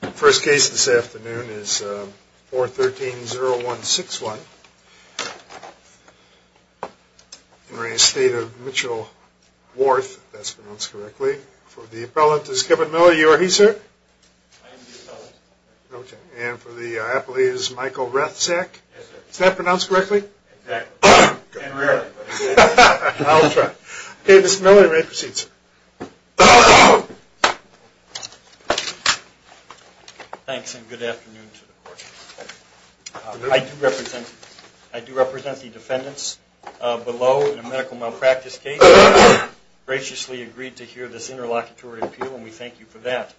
The first case this afternoon is 413-0161 in re Estate of Mitchell-Warth, if that's pronounced correctly. For the appellant is Kevin Miller. You are he, sir? I am the appellant. Okay. And for the appellate is Michael Rathsack. Yes, sir. Is that pronounced correctly? Exactly. And rare. I'll try. Okay, Mr. Miller, you may proceed, sir. Thanks and good afternoon to the court. I do represent the defendants below in a medical malpractice case. We graciously agreed to hear this interlocutory appeal and we thank you for that.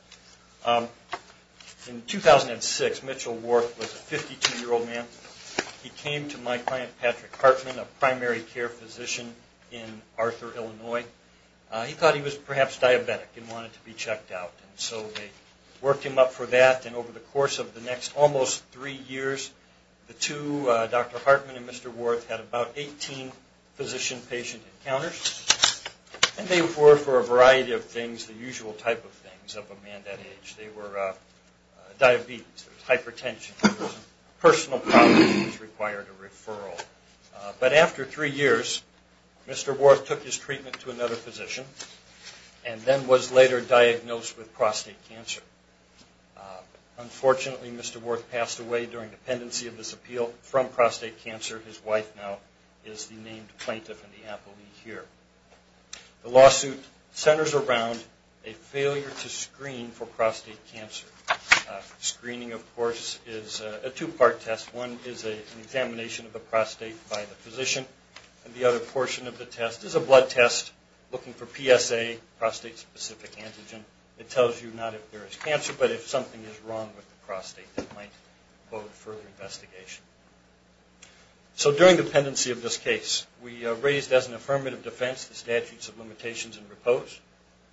In 2006, Mitchell-Warth was a 52-year-old man. He came to my client, Patrick Hartman, a primary care physician in Arthur, Illinois. He thought he was perhaps diabetic and wanted to be checked out. And so they worked him up for that. And over the course of the next almost three years, the two, Dr. Hartman and Mr. Warth, had about 18 physician-patient encounters. And they were for a variety of things, the usual type of things of a man that age. They were diabetes, hypertension, personal problems, he was required a referral. But after three years, Mr. Warth took his treatment to another physician and then was later diagnosed with prostate cancer. Unfortunately, Mr. Warth passed away during dependency of this appeal from prostate cancer. His wife now is the named plaintiff in the appeal here. The lawsuit centers around a failure to screen for prostate cancer. Screening, of course, is a two-part test. One is an examination of the prostate by the physician. And the other portion of the test is a blood test looking for PSA, prostate-specific antigen. It tells you not if there is cancer, but if something is wrong with the prostate that might hold further investigation. So during dependency of this case, we raised as an affirmative defense the statutes of limitations and repose.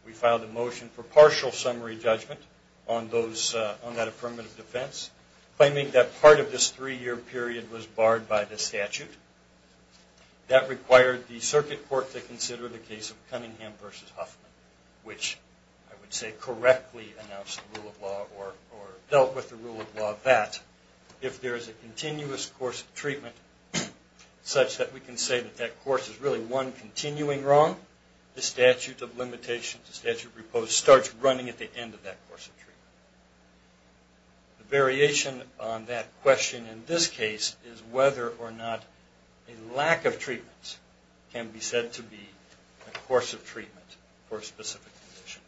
We filed a motion for partial summary judgment on that affirmative defense, claiming that part of this three-year period was barred by the statute. That required the circuit court to consider the case of Cunningham v. Huffman, which I would say correctly announced the rule of law or dealt with the rule of law that if there is a continuous course of treatment such that we can say that that course is really one continuing wrong, the statute of limitations, the statute of repose, starts running at the end of that course of treatment. The variation on that question in this case is whether or not a lack of treatment can be said to be a course of treatment for a specific condition.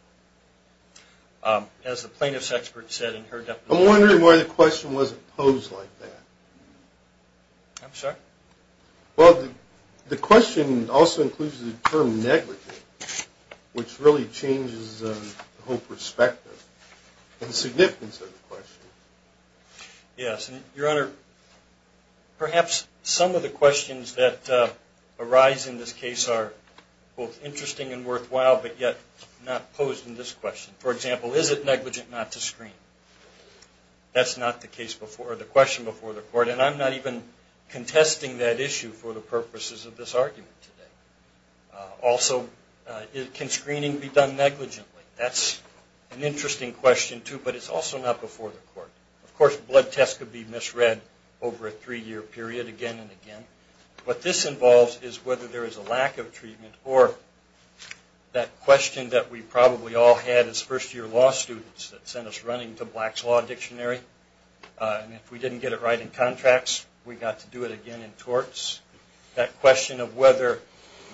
As the plaintiff's expert said in her deposition... I'm wondering why the question wasn't posed like that. I'm sorry? Well, the question also includes the term negligence, which really changes the whole perspective and significance of the question. Yes. Your Honor, perhaps some of the questions that arise in this case are both interesting and worthwhile, but yet not posed in this question. For example, is it negligent not to screen? That's not the question before the court, and I'm not even contesting that issue for the purposes of this argument today. Also, can screening be done negligently? That's an interesting question, too, but it's also not before the court. Of course, blood tests could be misread over a three-year period again and again. What this involves is whether there is a lack of treatment or that question that we probably all had as first-year law students that sent us running to Black's Law Dictionary. If we didn't get it right in contracts, we got to do it again in torts. That question of whether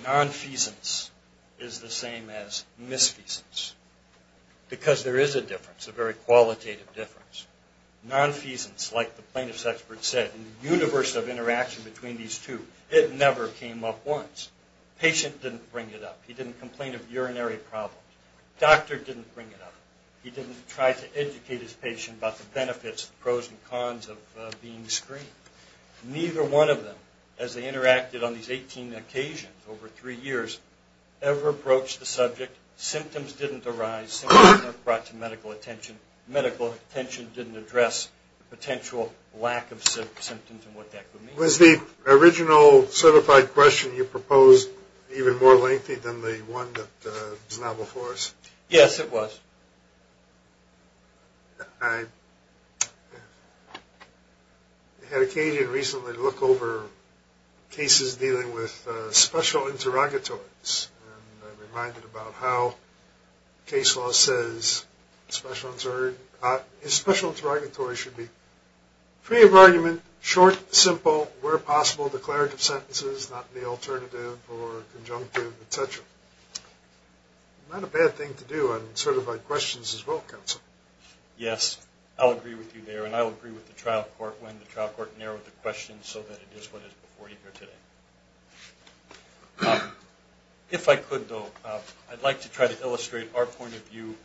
nonfeasance is the same as misfeasance, because there is a difference, a very qualitative difference. Nonfeasance, like the plaintiff's expert said, in the universe of interaction between these two, it never came up once. The patient didn't bring it up. He didn't complain of a urinary problem. The doctor didn't bring it up. He didn't try to educate his patient about the benefits and pros and cons of being screened. Neither one of them, as they interacted on these 18 occasions over three years, ever broached the subject. Symptoms didn't arise. Symptoms weren't brought to medical attention. Medical attention didn't address the potential lack of symptoms and what that would mean. Was the original certified question you proposed even more lengthy than the one that was now before us? Yes, it was. I had occasion recently to look over cases dealing with special interrogatories, and I'm reminded about how case law says special interrogatories should be free of argument, short, simple, where possible declarative sentences, not the alternative or conjunctive, et cetera. Not a bad thing to do, and sort of like questions as well, counsel. Yes, I'll agree with you there, and I'll agree with the trial court when the trial court narrowed the questions so that it is what it is before you here today. If I could, though, I'd like to try to illustrate our point of view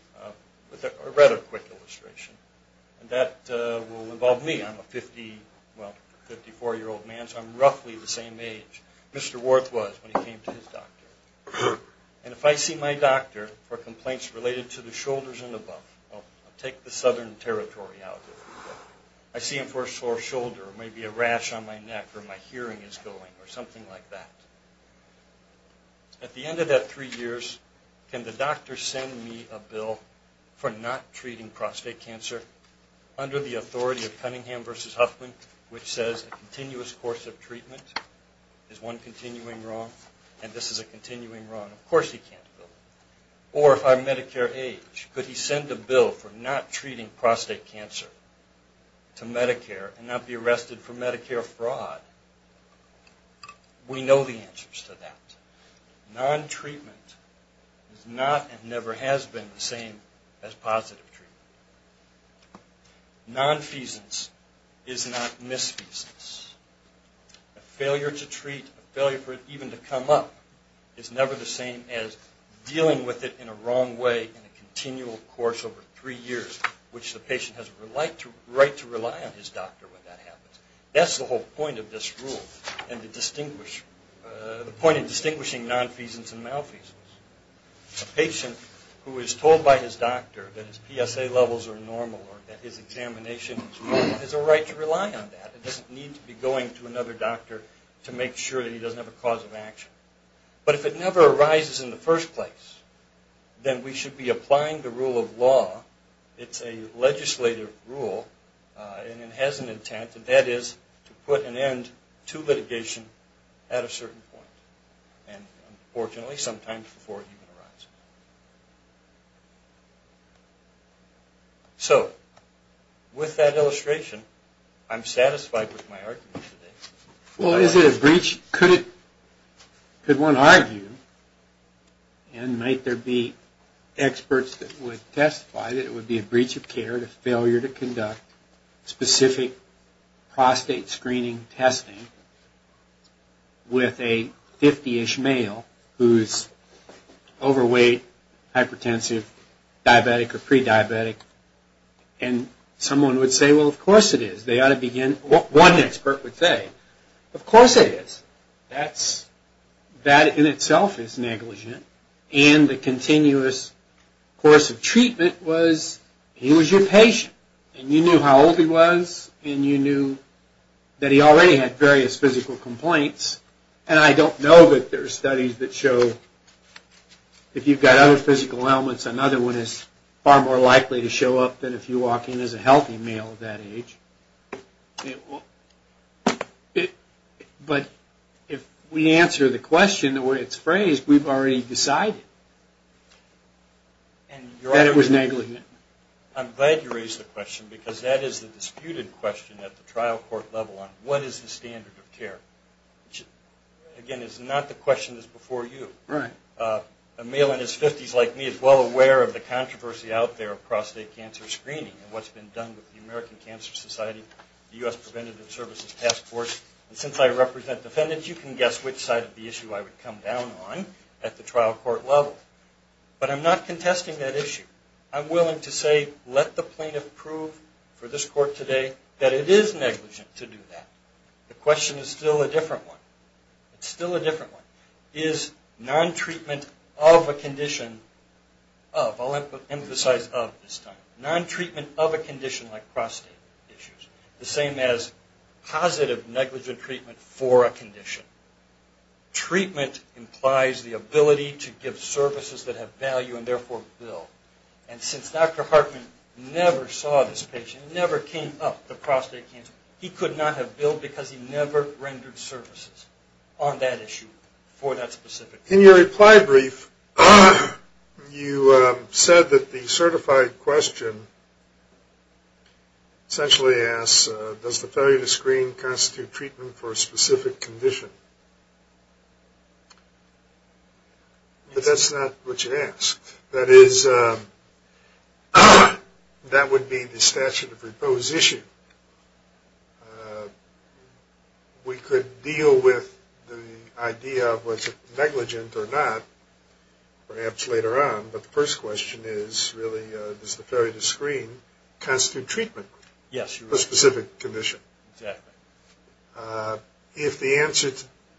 with a rather quick illustration, and that will involve me. I'm a 54-year-old man, so I'm roughly the same age Mr. Worth was when he came to his doctor. And if I see my doctor for complaints related to the shoulders and above, I'll take the southern territory out of it. I see him for a sore shoulder or maybe a rash on my neck or my hearing is going or something like that. At the end of that three years, can the doctor send me a bill for not treating prostate cancer under the authority of Cunningham v. Huffman, which says a continuous course of treatment is one continuing wrong, and this is a continuing wrong. Of course he can't do it. Or if I'm Medicare age, could he send a bill for not treating prostate cancer to Medicare and not be arrested for Medicare fraud? We know the answers to that. Non-treatment is not and never has been the same as positive treatment. Non-feasance is not misfeasance. A failure to treat, a failure for it even to come up, is never the same as dealing with it in a wrong way in a continual course over three years, which the patient has a right to rely on his doctor when that happens. That's the whole point of this rule and the point of distinguishing non-feasance and malfeasance. A patient who is told by his doctor that his PSA levels are normal or that his examination is normal has a right to rely on that. He doesn't need to be going to another doctor to make sure that he doesn't have a cause of action. But if it never arises in the first place, then we should be applying the rule of law. It's a legislative rule and it has an intent, and that is to put an end to litigation at a certain point, and unfortunately sometimes before it even arises. So, with that illustration, I'm satisfied with my argument today. Well, is it a breach? Could one argue, and might there be experts that would testify that it would be a breach of care, a failure to conduct specific prostate screening testing with a 50-ish male who is overweight, hypertensive, diabetic or pre-diabetic? And someone would say, well, of course it is. One expert would say, of course it is. That in itself is negligent and the continuous course of treatment was he was your patient and you knew how old he was and you knew that he already had various physical complaints and I don't know that there are studies that show if you've got other physical ailments, another one is far more likely to show up than if you walk in as a healthy male at that age. But if we answer the question the way it's phrased, we've already decided that it was negligent. I'm glad you raised the question because that is the disputed question at the trial court level on what is the standard of care. Again, it's not the question that's before you. A male in his 50s like me is well aware of the controversy out there of prostate cancer screening and what's been done with the American Cancer Society, the U.S. Preventative Services Task Force. And since I represent defendants, you can guess which side of the issue I would come down on at the trial court level. But I'm not contesting that issue. I'm willing to say, let the plaintiff prove for this court today that it is negligent to do that. The question is still a different one. It's still a different one. Is non-treatment of a condition, of, I'll emphasize of this time, non-treatment of a condition like prostate issues the same as positive negligent treatment for a condition? Treatment implies the ability to give services that have value and therefore bill. And since Dr. Hartman never saw this patient, never came up to prostate cancer, he could not have billed because he never rendered services on that issue for that specific patient. In your reply brief, you said that the certified question essentially asks, does the failure to screen constitute treatment for a specific condition? But that's not what you asked. That is, that would be the statute of repose issue. We could deal with the idea of was it negligent or not, perhaps later on. But the first question is really, does the failure to screen constitute treatment for a specific condition? Exactly. If the answer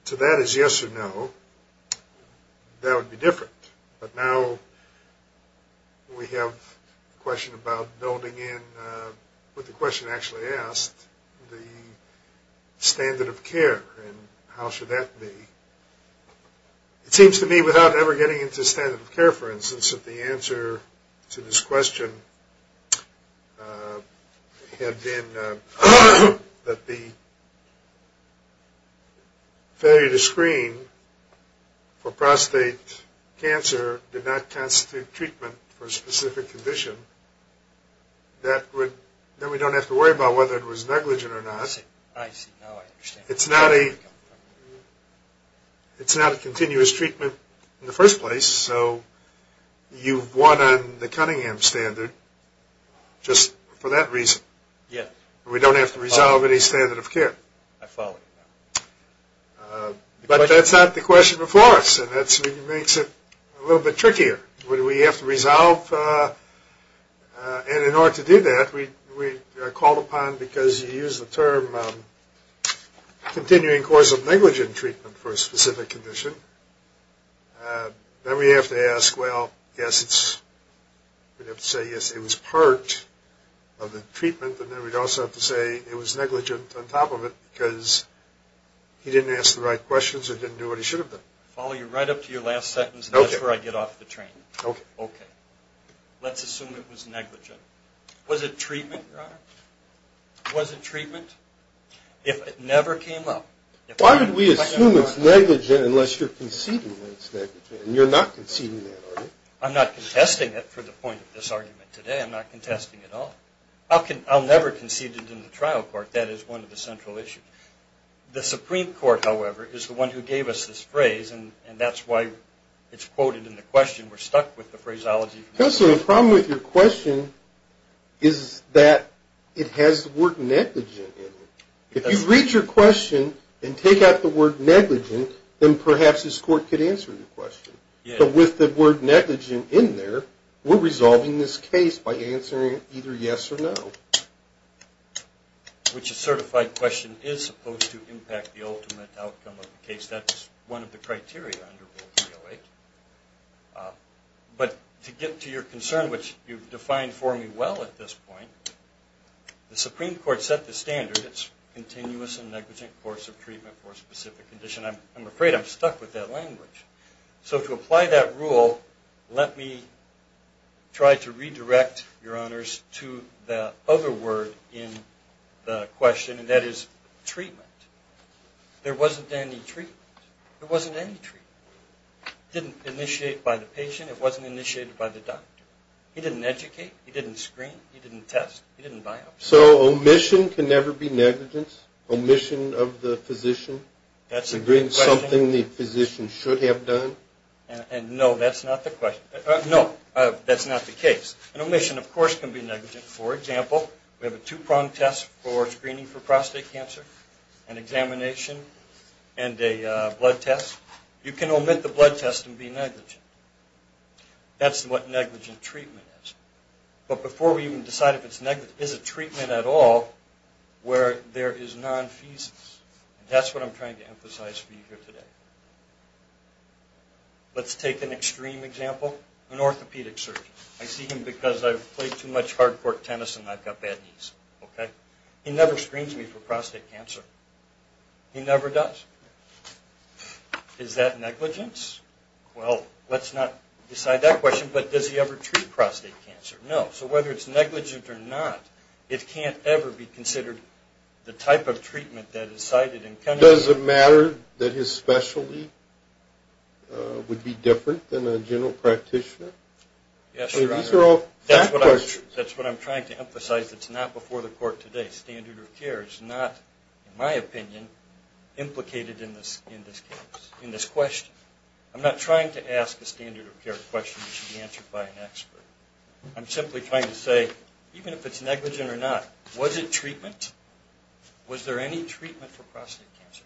to that is yes or no, that would be different. But now we have a question about building in, with the question actually asked, the standard of care and how should that be. It seems to me without ever getting into standard of care, for instance, that the answer to this question had been that the failure to screen for prostate cancer did not constitute treatment for a specific condition. Then we don't have to worry about whether it was negligent or not. I see. Now I understand. It's not a continuous treatment in the first place. So you've won on the Cunningham standard just for that reason. Yes. We don't have to resolve any standard of care. I follow. But that's not the question before us, and that makes it a little bit trickier. We have to resolve. And in order to do that, we are called upon because you use the term continuing course of negligent treatment for a specific condition. Then we have to ask, well, yes, it's, we have to say, yes, it was part of the treatment. And then we'd also have to say it was negligent on top of it because he didn't ask the right questions or didn't do what he should have done. I'll follow you right up to your last sentence, and that's where I get off the train. Okay. Okay. Let's assume it was negligent. Was it treatment, Your Honor? Was it treatment? If it never came up. Why would we assume it's negligent unless you're conceding that it's negligent? And you're not conceding that, are you? I'm not contesting it for the point of this argument today. I'm not contesting it at all. I'll never concede it in the trial court. That is one of the central issues. The Supreme Court, however, is the one who gave us this phrase, and that's why it's quoted in the question. We're stuck with the phraseology. Counselor, the problem with your question is that it has the word negligent in it. If you read your question and take out the word negligent, then perhaps this court could answer your question. But with the word negligent in there, we're resolving this case by answering either yes or no. Which a certified question is supposed to impact the ultimate outcome of the case. That's one of the criteria under Rule 308. But to get to your concern, which you've defined for me well at this point, the Supreme Court set the standard. It's continuous and negligent course of treatment for a specific condition. I'm afraid I'm stuck with that language. So to apply that rule, let me try to redirect your honors to the other word in the question, and that is treatment. There wasn't any treatment. There wasn't any treatment. It didn't initiate by the patient. It wasn't initiated by the doctor. He didn't educate. He didn't screen. He didn't test. He didn't biopsy. So omission can never be negligence? Omission of the physician? That's a good question. Something the physician should have done? No, that's not the question. No, that's not the case. An omission, of course, can be negligent. For example, we have a two-prong test for screening for prostate cancer, an examination, and a blood test. You can omit the blood test and be negligent. That's what negligent treatment is. But before we even decide if it's negligent, is it treatment at all where there is nonfeasance? That's what I'm trying to emphasize for you here today. Let's take an extreme example. An orthopedic surgeon. I see him because I've played too much hardcore tennis and I've got bad knees. He never screens me for prostate cancer. He never does. Is that negligence? Well, let's not decide that question. But does he ever treat prostate cancer? No. So whether it's negligent or not, it can't ever be considered the type of treatment that is cited. Does it matter that his specialty would be different than a general practitioner? Yes, Your Honor. These are all bad questions. That's what I'm trying to emphasize. It's not before the court today. It's not, in my opinion, implicated in this case, in this question. I'm not trying to ask a standard of care question that should be answered by an expert. I'm simply trying to say, even if it's negligent or not, was it treatment? Was there any treatment for prostate cancer?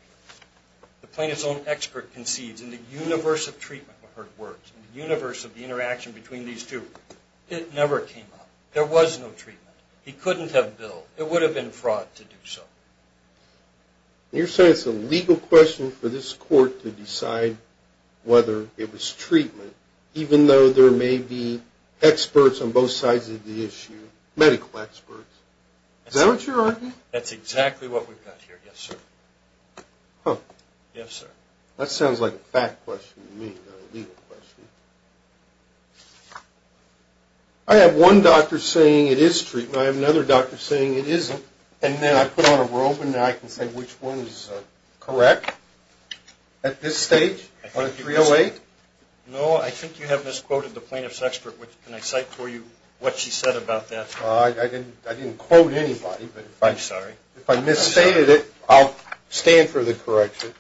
The plaintiff's own expert concedes, in the universe of treatment we've heard words, in the universe of the interaction between these two, it never came up. There was no treatment. He couldn't have billed. It would have been fraud to do so. You're saying it's a legal question for this court to decide whether it was treatment, even though there may be experts on both sides of the issue, medical experts. Is that what you're arguing? That's exactly what we've got here, yes, sir. Huh. Yes, sir. That sounds like a fact question to me, not a legal question. I have one doctor saying it is treatment. I have another doctor saying it isn't. And then I put on a robe and I can say which one is correct at this stage, on a 308? No, I think you have misquoted the plaintiff's expert. Can I cite for you what she said about that? I didn't quote anybody. I'm sorry. If I misstated it, I'll stand for the correction.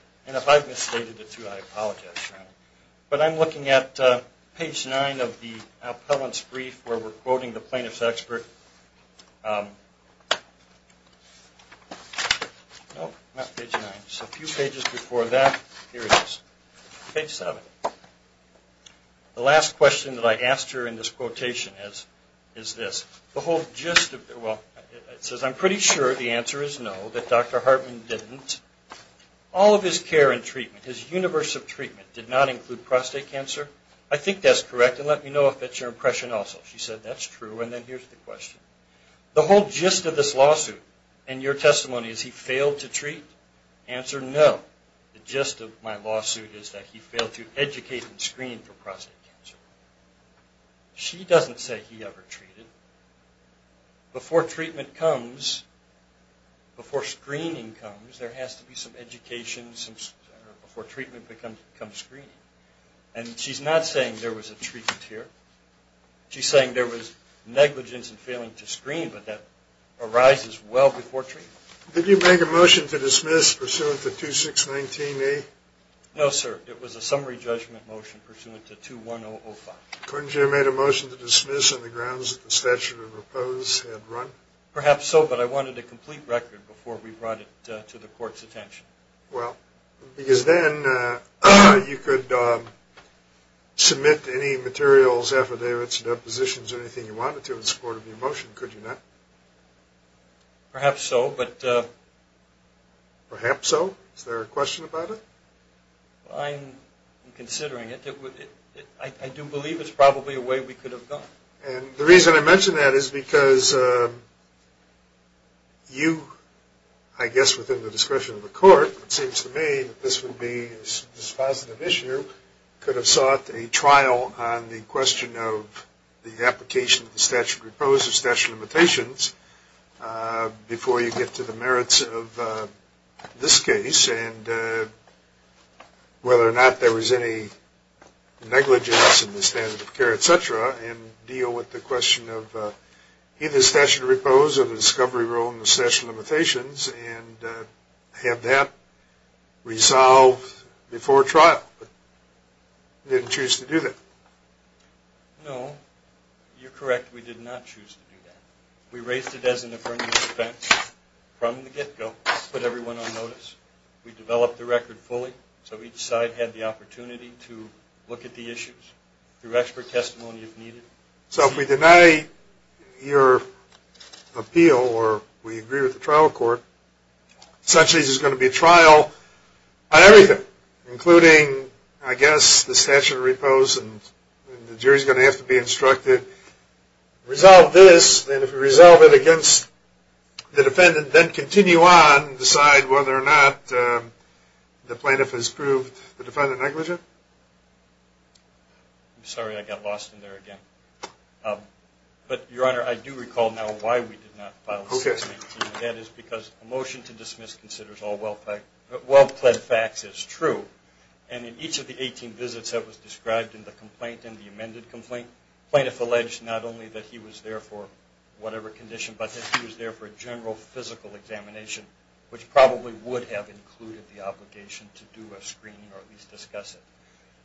But I'm looking at page 9 of the appellant's brief where we're quoting the plaintiff's expert. No, not page 9. It's a few pages before that. Here it is. Page 7. The last question that I asked her in this quotation is this. It says, I'm pretty sure the answer is no, that Dr. Hartman didn't. All of his care and treatment, his universe of treatment, did not include prostate cancer. I think that's correct, and let me know if that's your impression also. She said that's true, and then here's the question. The whole gist of this lawsuit and your testimony is he failed to treat? Answer, no. The gist of my lawsuit is that he failed to educate and screen for prostate cancer. She doesn't say he ever treated. Before treatment comes, before screening comes, there has to be some education before treatment becomes screening. And she's not saying there was a treatment here. She's saying there was negligence in failing to screen, but that arises well before treatment. Did you make a motion to dismiss pursuant to 2619A? No, sir. It was a summary judgment motion pursuant to 21005. Couldn't you have made a motion to dismiss on the grounds that the statute of oppose had run? Perhaps so, but I wanted a complete record before we brought it to the court's attention. Well, because then you could submit any materials, affidavits, depositions, anything you wanted to in support of your motion, could you not? Perhaps so, but... Perhaps so? Is there a question about it? I'm considering it. I do believe it's probably a way we could have gone. And the reason I mention that is because you, I guess within the discretion of the court, it seems to me that this would be a dispositive issue, could have sought a trial on the question of the application of the statute of oppose or statute of limitations before you get to the merits of this case. And whether or not there was any negligence in the standard of care, et cetera, and deal with the question of either the statute of oppose or the discovery rule and the statute of limitations, and have that resolved before trial. But you didn't choose to do that. No, you're correct. We did not choose to do that. We raised it as an affirmative defense from the get-go, put everyone on notice. We developed the record fully so each side had the opportunity to look at the issues through expert testimony if needed. So if we deny your appeal or we agree with the trial court, essentially this is going to be a trial on everything, including, I guess, the statute of oppose and the jury's going to have to be instructed. Resolve this, and if we resolve it against the defendant, then continue on and decide whether or not the plaintiff has proved the defendant negligent? I'm sorry I got lost in there again. But, Your Honor, I do recall now why we did not file 618. That is because a motion to dismiss considers all well-pled facts as true. And in each of the 18 visits that was described in the complaint and the amended complaint, plaintiff alleged not only that he was there for whatever condition, but that he was there for a general physical examination, which probably would have included the obligation to do a screening or at least discuss it.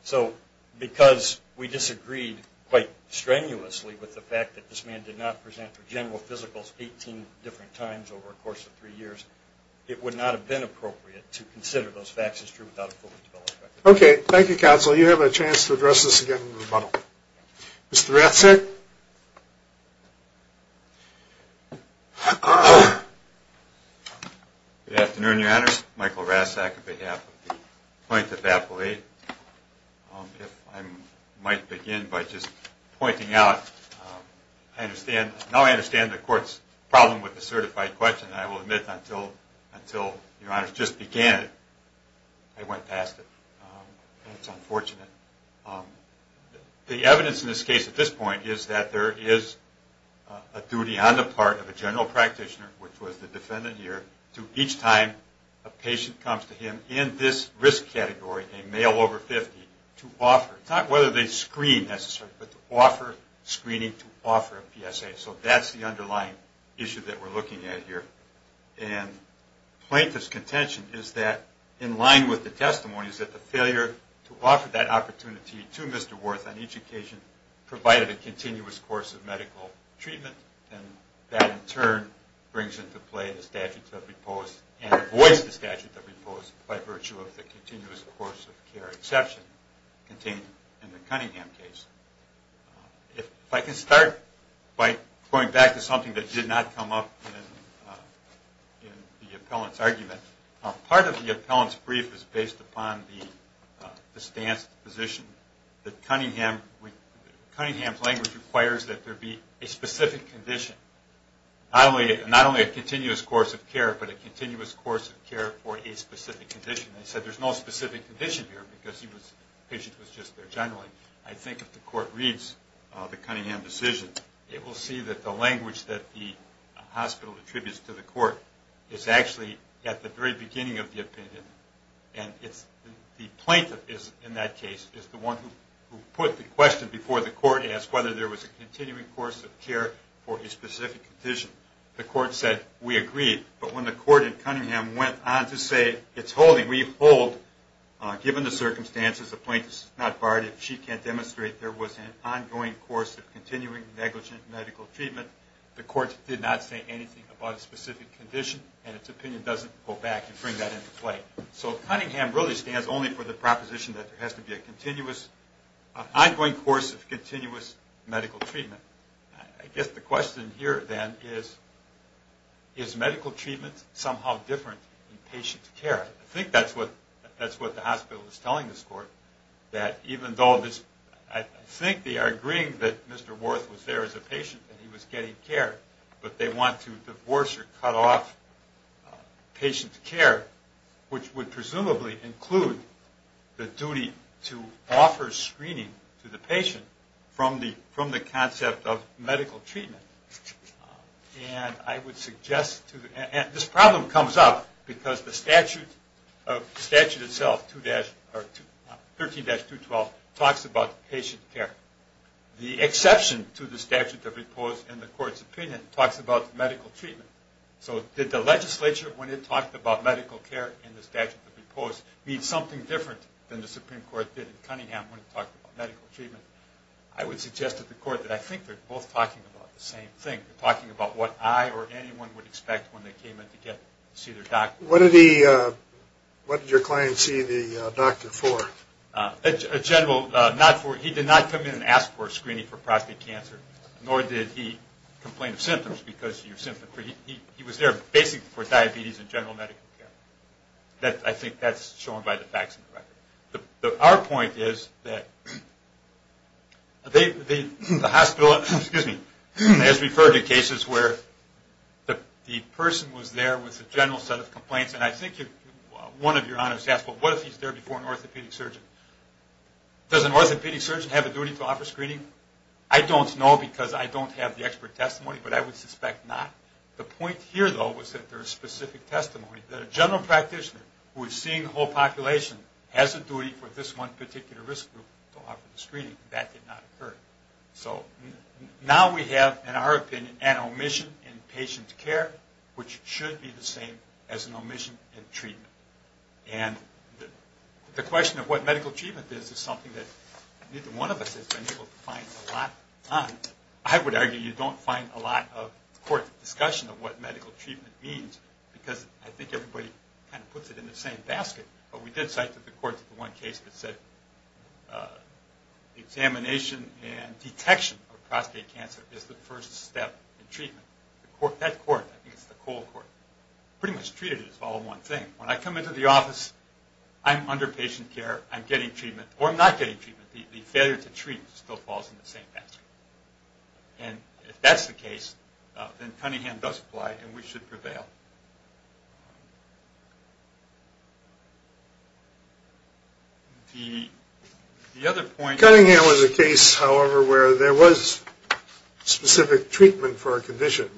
So because we disagreed quite strenuously with the fact that this man did not present for general physicals 18 different times over a course of three years, it would not have been appropriate to consider those facts as true without a fully developed record. Okay. Thank you, Counsel. You have a chance to address this again in rebuttal. Mr. Ratzak? Good afternoon, Your Honors. Michael Ratzak on behalf of the Plaintiff's Appellate. If I might begin by just pointing out, now I understand the Court's problem with the certified question, and I will admit until Your Honors just began it, I went past it. That's unfortunate. The evidence in this case at this point is that there is a duty on the part of a general practitioner, which was the defendant here, to each time a patient comes to him in this risk category, a male over 50, to offer, not whether they screen necessarily, but to offer screening to offer a PSA. So that's the underlying issue that we're looking at here. And Plaintiff's contention is that, in line with the testimony, is that the failure to offer that opportunity to Mr. Worth on each occasion provided a continuous course of medical treatment, and that in turn brings into play the statute of repose and avoids the statute of repose by virtue of the continuous course of care exception contained in the Cunningham case. If I can start by going back to something that did not come up in the appellant's argument. Part of the appellant's brief is based upon the stance of the physician, that Cunningham's language requires that there be a specific condition, not only a continuous course of care, but a continuous course of care for a specific condition. I said there's no specific condition here because the patient was just there generally. I think if the court reads the Cunningham decision, it will see that the language that the hospital attributes to the court is actually at the very beginning of the opinion. And the plaintiff in that case is the one who put the question before the court and asked whether there was a continuing course of care for a specific condition. The court said, we agree. But when the court in Cunningham went on to say, it's holding, we hold, given the circumstances, the plaintiff's not barred if she can't demonstrate there was an ongoing course of continuing negligent medical treatment, the court did not say anything about a specific condition and its opinion doesn't go back and bring that into play. So Cunningham really stands only for the proposition that there has to be an ongoing course of continuous medical treatment. I guess the question here then is, is medical treatment somehow different than patient care? I think that's what the hospital is telling this court. I think they are agreeing that Mr. Worth was there as a patient and he was getting care, but they want to divorce or cut off patient care, which would presumably include the duty to offer screening to the patient from the concept of medical treatment. This problem comes up because the statute itself, 13-212, talks about patient care. The exception to the statute of repose in the court's opinion talks about medical treatment. So did the legislature, when it talked about medical care in the statute of repose, need something different than the Supreme Court did in Cunningham when it talked about medical treatment? I would suggest to the court that I think they're both talking about the same thing. They're talking about what I or anyone would expect when they came in to see their doctor. What did your client see the doctor for? He did not come in and ask for a screening for prostate cancer, nor did he complain of symptoms. He was there basically for diabetes and general medical care. I think that's shown by the facts of the record. Our point is that the hospital has referred to cases where the person was there with a general set of complaints, and I think one of your honors asked, well, what if he's there before an orthopedic surgeon? Does an orthopedic surgeon have a duty to offer screening? I don't know because I don't have the expert testimony, but I would suspect not. The point here, though, was that there is specific testimony that a general practitioner who is seeing the whole population has a duty for this one particular risk group to offer the screening. That did not occur. Now we have, in our opinion, an omission in patient care, which should be the same as an omission in treatment. The question of what medical treatment is is something that neither one of us has been able to find a lot on. I would argue you don't find a lot of court discussion of what medical treatment means because I think everybody kind of puts it in the same basket, but we did cite that the courts in one case that said examination and detection of prostate cancer is the first step in treatment. That court, I think it's the Cole Court, pretty much treated it as all one thing. When I come into the office, I'm under patient care. I'm getting treatment, or I'm not getting treatment. The failure to treat still falls in the same basket. If that's the case, then Cunningham does apply and we should prevail. Cunningham was a case, however, where there was specific treatment for a condition.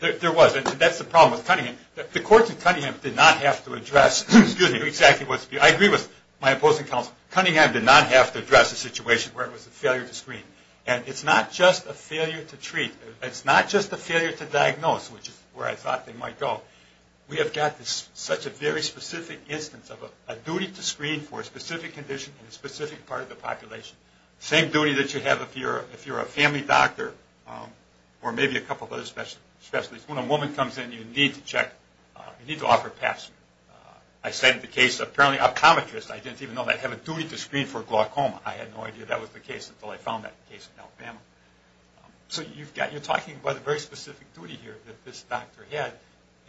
There was. That's the problem with Cunningham. The courts in Cunningham did not have to address exactly what's being said. I agree with my opposing counsel. Cunningham did not have to address a situation where it was a failure to screen. It's not just a failure to treat. It's not just a failure to diagnose, which is where I thought they might go. We have got such a very specific instance of a duty to screen for a specific condition in a specific part of the population. The same duty that you have if you're a family doctor or maybe a couple of other specialists. When a woman comes in, you need to check. You need to offer a pastor. I said in the case of apparently optometrists. I didn't even know they have a duty to screen for glaucoma. I had no idea that was the case until I found that case in Alabama. So you're talking about a very specific duty here that this doctor had,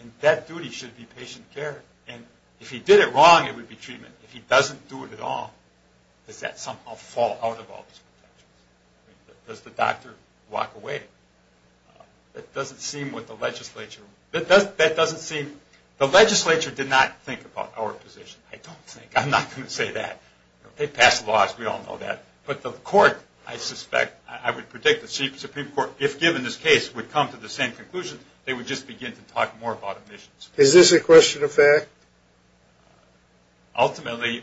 and that duty should be patient care. And if he did it wrong, it would be treatment. If he doesn't do it at all, does that somehow fall out of all these protections? Does the doctor walk away? That doesn't seem what the legislature. That doesn't seem. The legislature did not think about our position. I don't think. I'm not going to say that. They passed laws. We all know that. But the court, I suspect, I would predict the Supreme Court, if given this case, would come to the same conclusion. They would just begin to talk more about admissions. Is this a question of fact? Ultimately,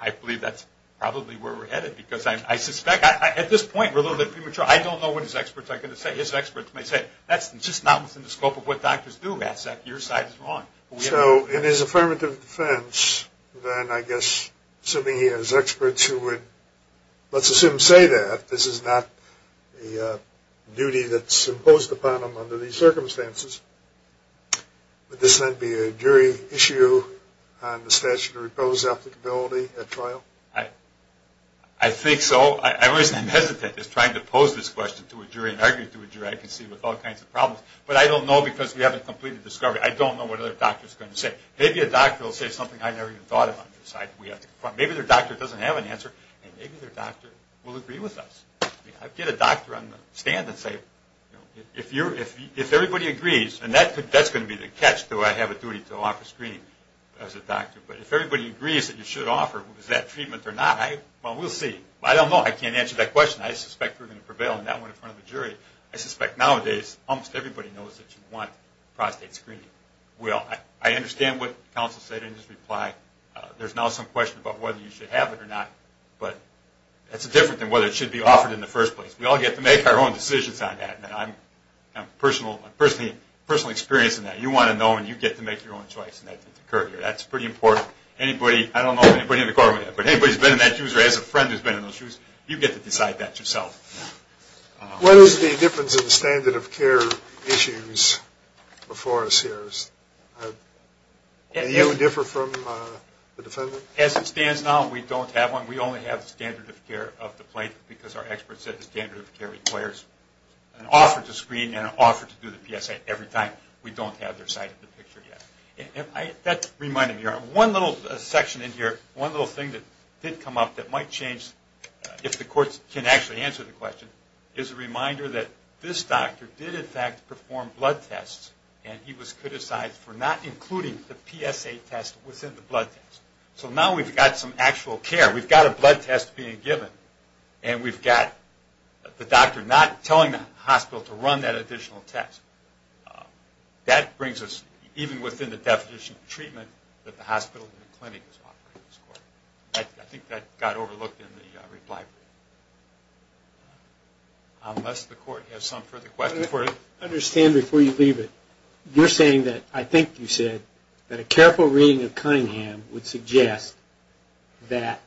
I believe that's probably where we're headed because I suspect. At this point, we're a little bit premature. I don't know what his experts are going to say. His experts may say, that's just not within the scope of what doctors do, Matt Sack. Your side is wrong. So in his affirmative defense, then I guess, assuming he has experts who would, let's assume, say that, this is not a duty that's imposed upon him under these circumstances, would this then be a jury issue on the statute of repose applicability at trial? I think so. I'm hesitant in trying to pose this question to a jury and argue to a jury I can see with all kinds of problems. But I don't know because we haven't completed the discovery. I don't know what other doctors are going to say. Maybe a doctor will say something I never even thought about. Maybe their doctor doesn't have an answer, and maybe their doctor will agree with us. I'd get a doctor on the stand and say, if everybody agrees, and that's going to be the catch, do I have a duty to offer screening as a doctor, but if everybody agrees that you should offer, is that treatment or not? Well, we'll see. I don't know. I can't answer that question. I suspect we're going to prevail on that one in front of a jury. I suspect nowadays almost everybody knows that you want prostate screening. Well, I understand what counsel said in his reply. There's now some question about whether you should have it or not, but that's different than whether it should be offered in the first place. We all get to make our own decisions on that, and I'm personally experienced in that. You want to know, and you get to make your own choice. That's pretty important. Anybody, I don't know if anybody in the courtroom, but anybody who's been in that shoes or has a friend who's been in those shoes, you get to decide that yourself. What is the difference in the standard of care issues before us here? Do you differ from the defendant? As it stands now, we don't have one. We only have the standard of care of the plaintiff because our experts said the standard of care requires an offer to screen and an offer to do the PSA every time. We don't have their side of the picture yet. That reminded me, one little section in here, one little thing that did come up that might change if the courts can actually answer the question, is a reminder that this doctor did in fact perform blood tests and he was criticized for not including the PSA test within the blood test. So now we've got some actual care. We've got a blood test being given, and we've got the doctor not telling the hospital to run that additional test. That brings us even within the definition of treatment that the hospital and the clinic is offering. I think that got overlooked in the reply. Unless the court has some further questions. I understand before you leave it, you're saying that, I think you said, that a careful reading of Cunningham would suggest that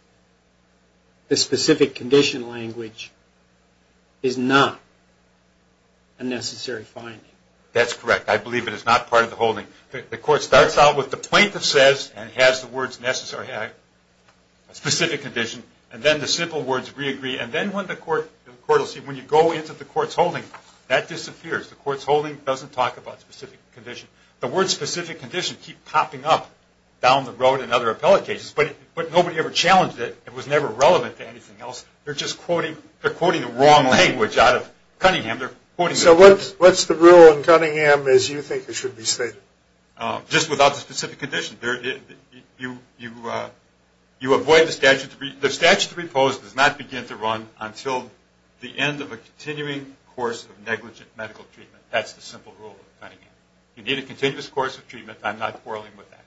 the specific condition language is not a necessary finding. That's correct. I believe it is not part of the holding. The court starts out with the plaintiff says and has the words specific condition, and then the simple words re-agree, and then when you go into the court's holding, that disappears. The court's holding doesn't talk about specific condition. The words specific condition keep popping up down the road in other appellate cases, but nobody ever challenged it. It was never relevant to anything else. They're just quoting the wrong language out of Cunningham. So what's the rule in Cunningham as you think it should be stated? Just without the specific condition. You avoid the statute. The statute to repose does not begin to run until the end of a continuing course of negligent medical treatment. That's the simple rule of Cunningham. You need a continuous course of treatment. I'm not quarreling with that.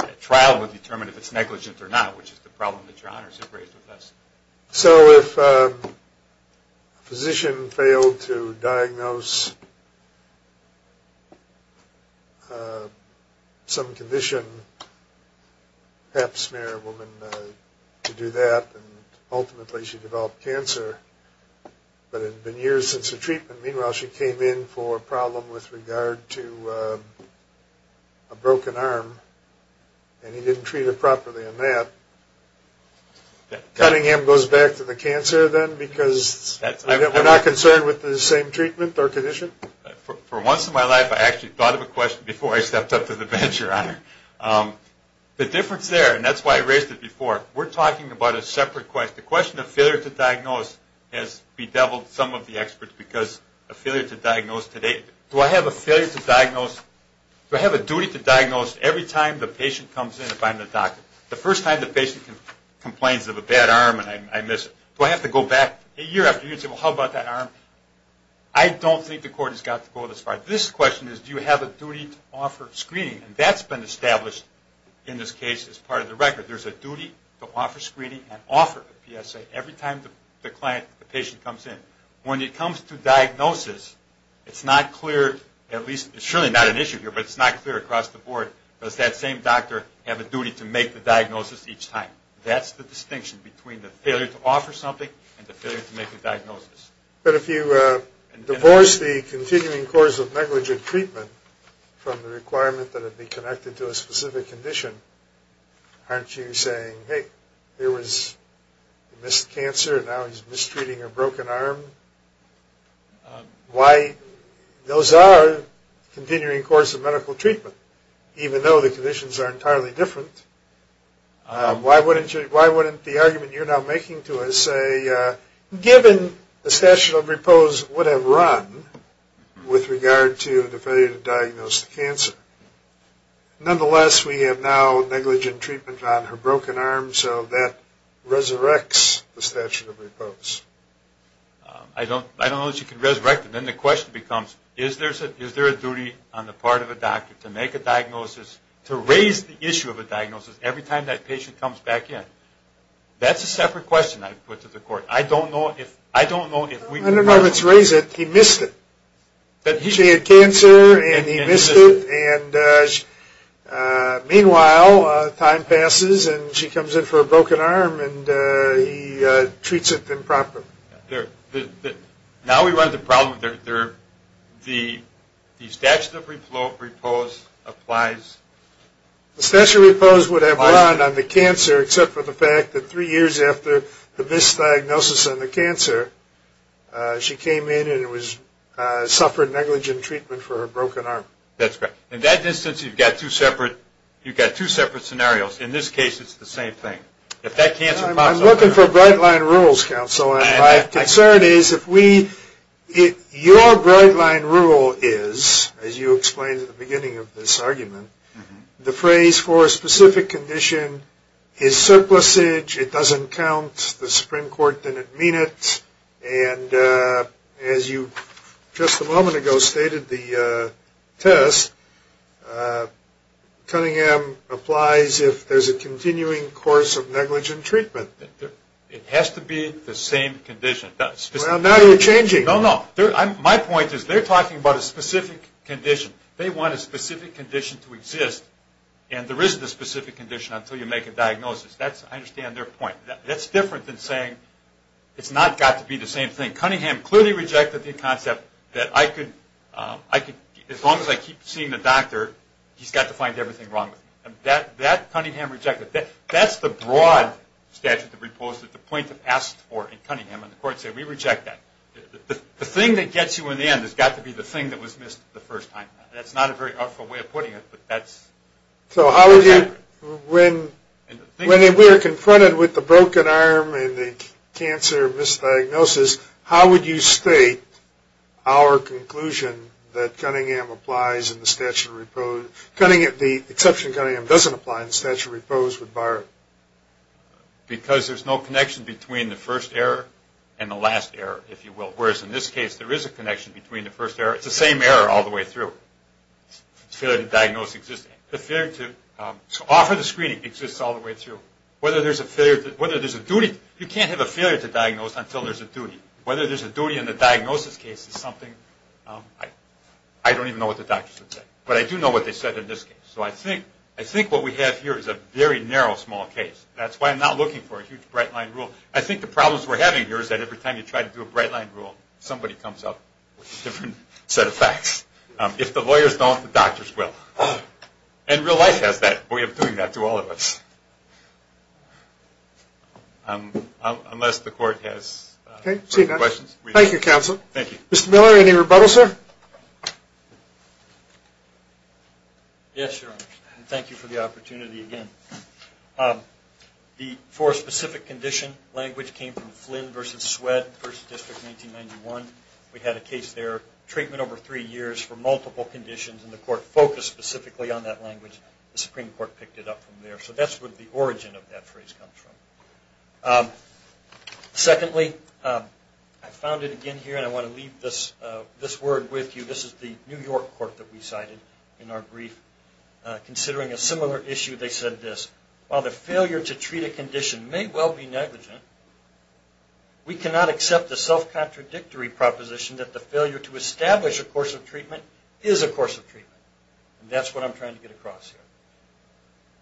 A trial would determine if it's negligent or not, which is the problem that your honors have raised with us. So if a physician failed to diagnose some condition, perhaps a married woman could do that, and ultimately she developed cancer, but it had been years since her treatment. Meanwhile, she came in for a problem with regard to a broken arm, and he didn't treat her properly on that. Cunningham goes back to the cancer then because we're not concerned with the same treatment or condition? For once in my life I actually thought of a question before I stepped up to the bench, Your Honor. The difference there, and that's why I raised it before, we're talking about a separate question. The question of failure to diagnose has bedeviled some of the experts because a failure to diagnose today... Do I have a duty to diagnose every time the patient comes in to find the doctor? The first time the patient complains of a bad arm and I miss it. Do I have to go back a year after a year and say, well, how about that arm? I don't think the court has got to go this far. This question is, do you have a duty to offer screening? And that's been established in this case as part of the record. There's a duty to offer screening and offer a PSA every time the patient comes in. When it comes to diagnosis, it's not clear, at least it's surely not an issue here, but it's not clear across the board. Does that same doctor have a duty to make the diagnosis each time? That's the distinction between the failure to offer something and the failure to make a diagnosis. But if you divorce the continuing course of negligent treatment from the requirement that it be connected to a specific condition, aren't you saying, hey, he missed cancer and now he's mistreating a broken arm? Those are continuing course of medical treatment, even though the conditions are entirely different. Why wouldn't the argument you're now making to us say, given the statute of repose would have run with regard to the failure to diagnose the cancer. Nonetheless, we have now negligent treatment on her broken arm, so that resurrects the statute of repose. I don't know that you can resurrect it. Then the question becomes, is there a duty on the part of a doctor to make a diagnosis, to raise the issue of a diagnosis every time that patient comes back in? That's a separate question I'd put to the court. I don't know if we can run with it. When her mother was raised, he missed it. She had cancer and he missed it. Meanwhile, time passes and she comes in for a broken arm and he treats it improperly. Now we run the problem. The statute of repose applies. The statute of repose would have run on the cancer, except for the fact that three years after the misdiagnosis on the cancer, she came in and suffered negligent treatment for her broken arm. That's correct. In that instance, you've got two separate scenarios. In this case, it's the same thing. I'm looking for bright line rules, counsel. My concern is if we – your bright line rule is, as you explained at the beginning of this argument, the phrase for a specific condition is surplusage. It doesn't count. The Supreme Court didn't mean it. And as you just a moment ago stated, the test, Cunningham, applies if there's a continuing course of negligent treatment. It has to be the same condition. Well, now you're changing. No, no. My point is they're talking about a specific condition. They want a specific condition to exist, and there isn't a specific condition until you make a diagnosis. I understand their point. That's different than saying it's not got to be the same thing. Cunningham clearly rejected the concept that as long as I keep seeing the doctor, he's got to find everything wrong with me. That Cunningham rejected. That's the broad statute of repose that the plaintiff asked for in Cunningham, and the court said we reject that. The thing that gets you in the end has got to be the thing that was missed the first time. That's not a very helpful way of putting it, but that's – So how would you – when we're confronted with the broken arm and the cancer misdiagnosis, how would you state our conclusion that Cunningham applies in the statute of repose – The exception Cunningham doesn't apply in the statute of repose would bar it. Because there's no connection between the first error and the last error, if you will, whereas in this case there is a connection between the first error. It's the same error all the way through. The failure to diagnose exists. The failure to offer the screening exists all the way through. Whether there's a failure – whether there's a duty – you can't have a failure to diagnose until there's a duty. Whether there's a duty in the diagnosis case is something – I don't even know what the doctors would say, but I do know what they said in this case. So I think what we have here is a very narrow, small case. That's why I'm not looking for a huge bright-line rule. I think the problems we're having here is that every time you try to do a bright-line rule, somebody comes up with a different set of facts. If the lawyers don't, the doctors will. And real life has that way of doing that to all of us. Unless the court has further questions. Thank you, counsel. Thank you. Mr. Miller, any rebuttal, sir? Yes, Your Honor. Thank you for the opportunity again. The four-specific condition language came from Flynn v. Sweatt, 1st District, 1991. We had a case there, treatment over three years for multiple conditions, and the court focused specifically on that language. The Supreme Court picked it up from there. So that's where the origin of that phrase comes from. Secondly, I found it again here, and I want to leave this word with you. This is the New York court that we cited in our brief. Considering a similar issue, they said this. While the failure to treat a condition may well be negligent, we cannot accept the self-contradictory proposition that the failure to establish a course of treatment is a course of treatment. And that's what I'm trying to get across here.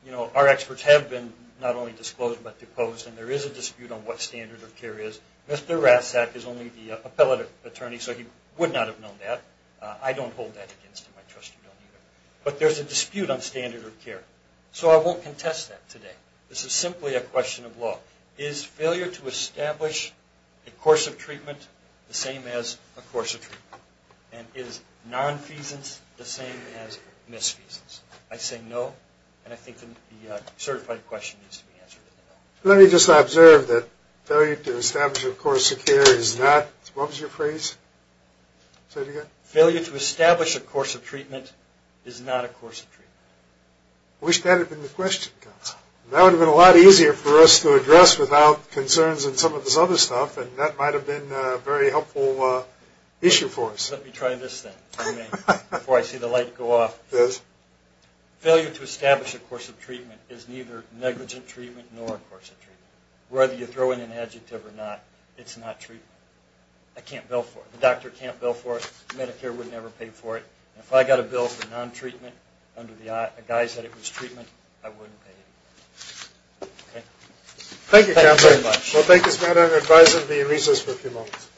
You know, our experts have been not only disclosed but deposed, and there is a dispute on what standard of care is. Mr. Rasack is only the appellate attorney, so he would not have known that. I don't hold that against him. I trust you don't either. But there's a dispute on standard of care. So I won't contest that today. This is simply a question of law. Is failure to establish a course of treatment the same as a course of treatment? And is nonfeasance the same as misfeasance? I say no, and I think the certified question needs to be answered. Let me just observe that failure to establish a course of care is not, what was your phrase? Say it again. Failure to establish a course of treatment is not a course of treatment. I wish that had been the question, counsel. That would have been a lot easier for us to address without concerns and some of this other stuff, and that might have been a very helpful issue for us. Let me try this thing for a minute before I see the light go off. Yes. Failure to establish a course of treatment is neither negligent treatment nor a course of treatment. Whether you throw in an adjective or not, it's not treatment. I can't bill for it. The doctor can't bill for it. Medicare would never pay for it. If I got a bill for non-treatment under the guise that it was treatment, I wouldn't pay it. Okay. Thank you, counsel. Thank you very much. Well, thank you, Mr. Maddox. I advise that we recess for a few moments.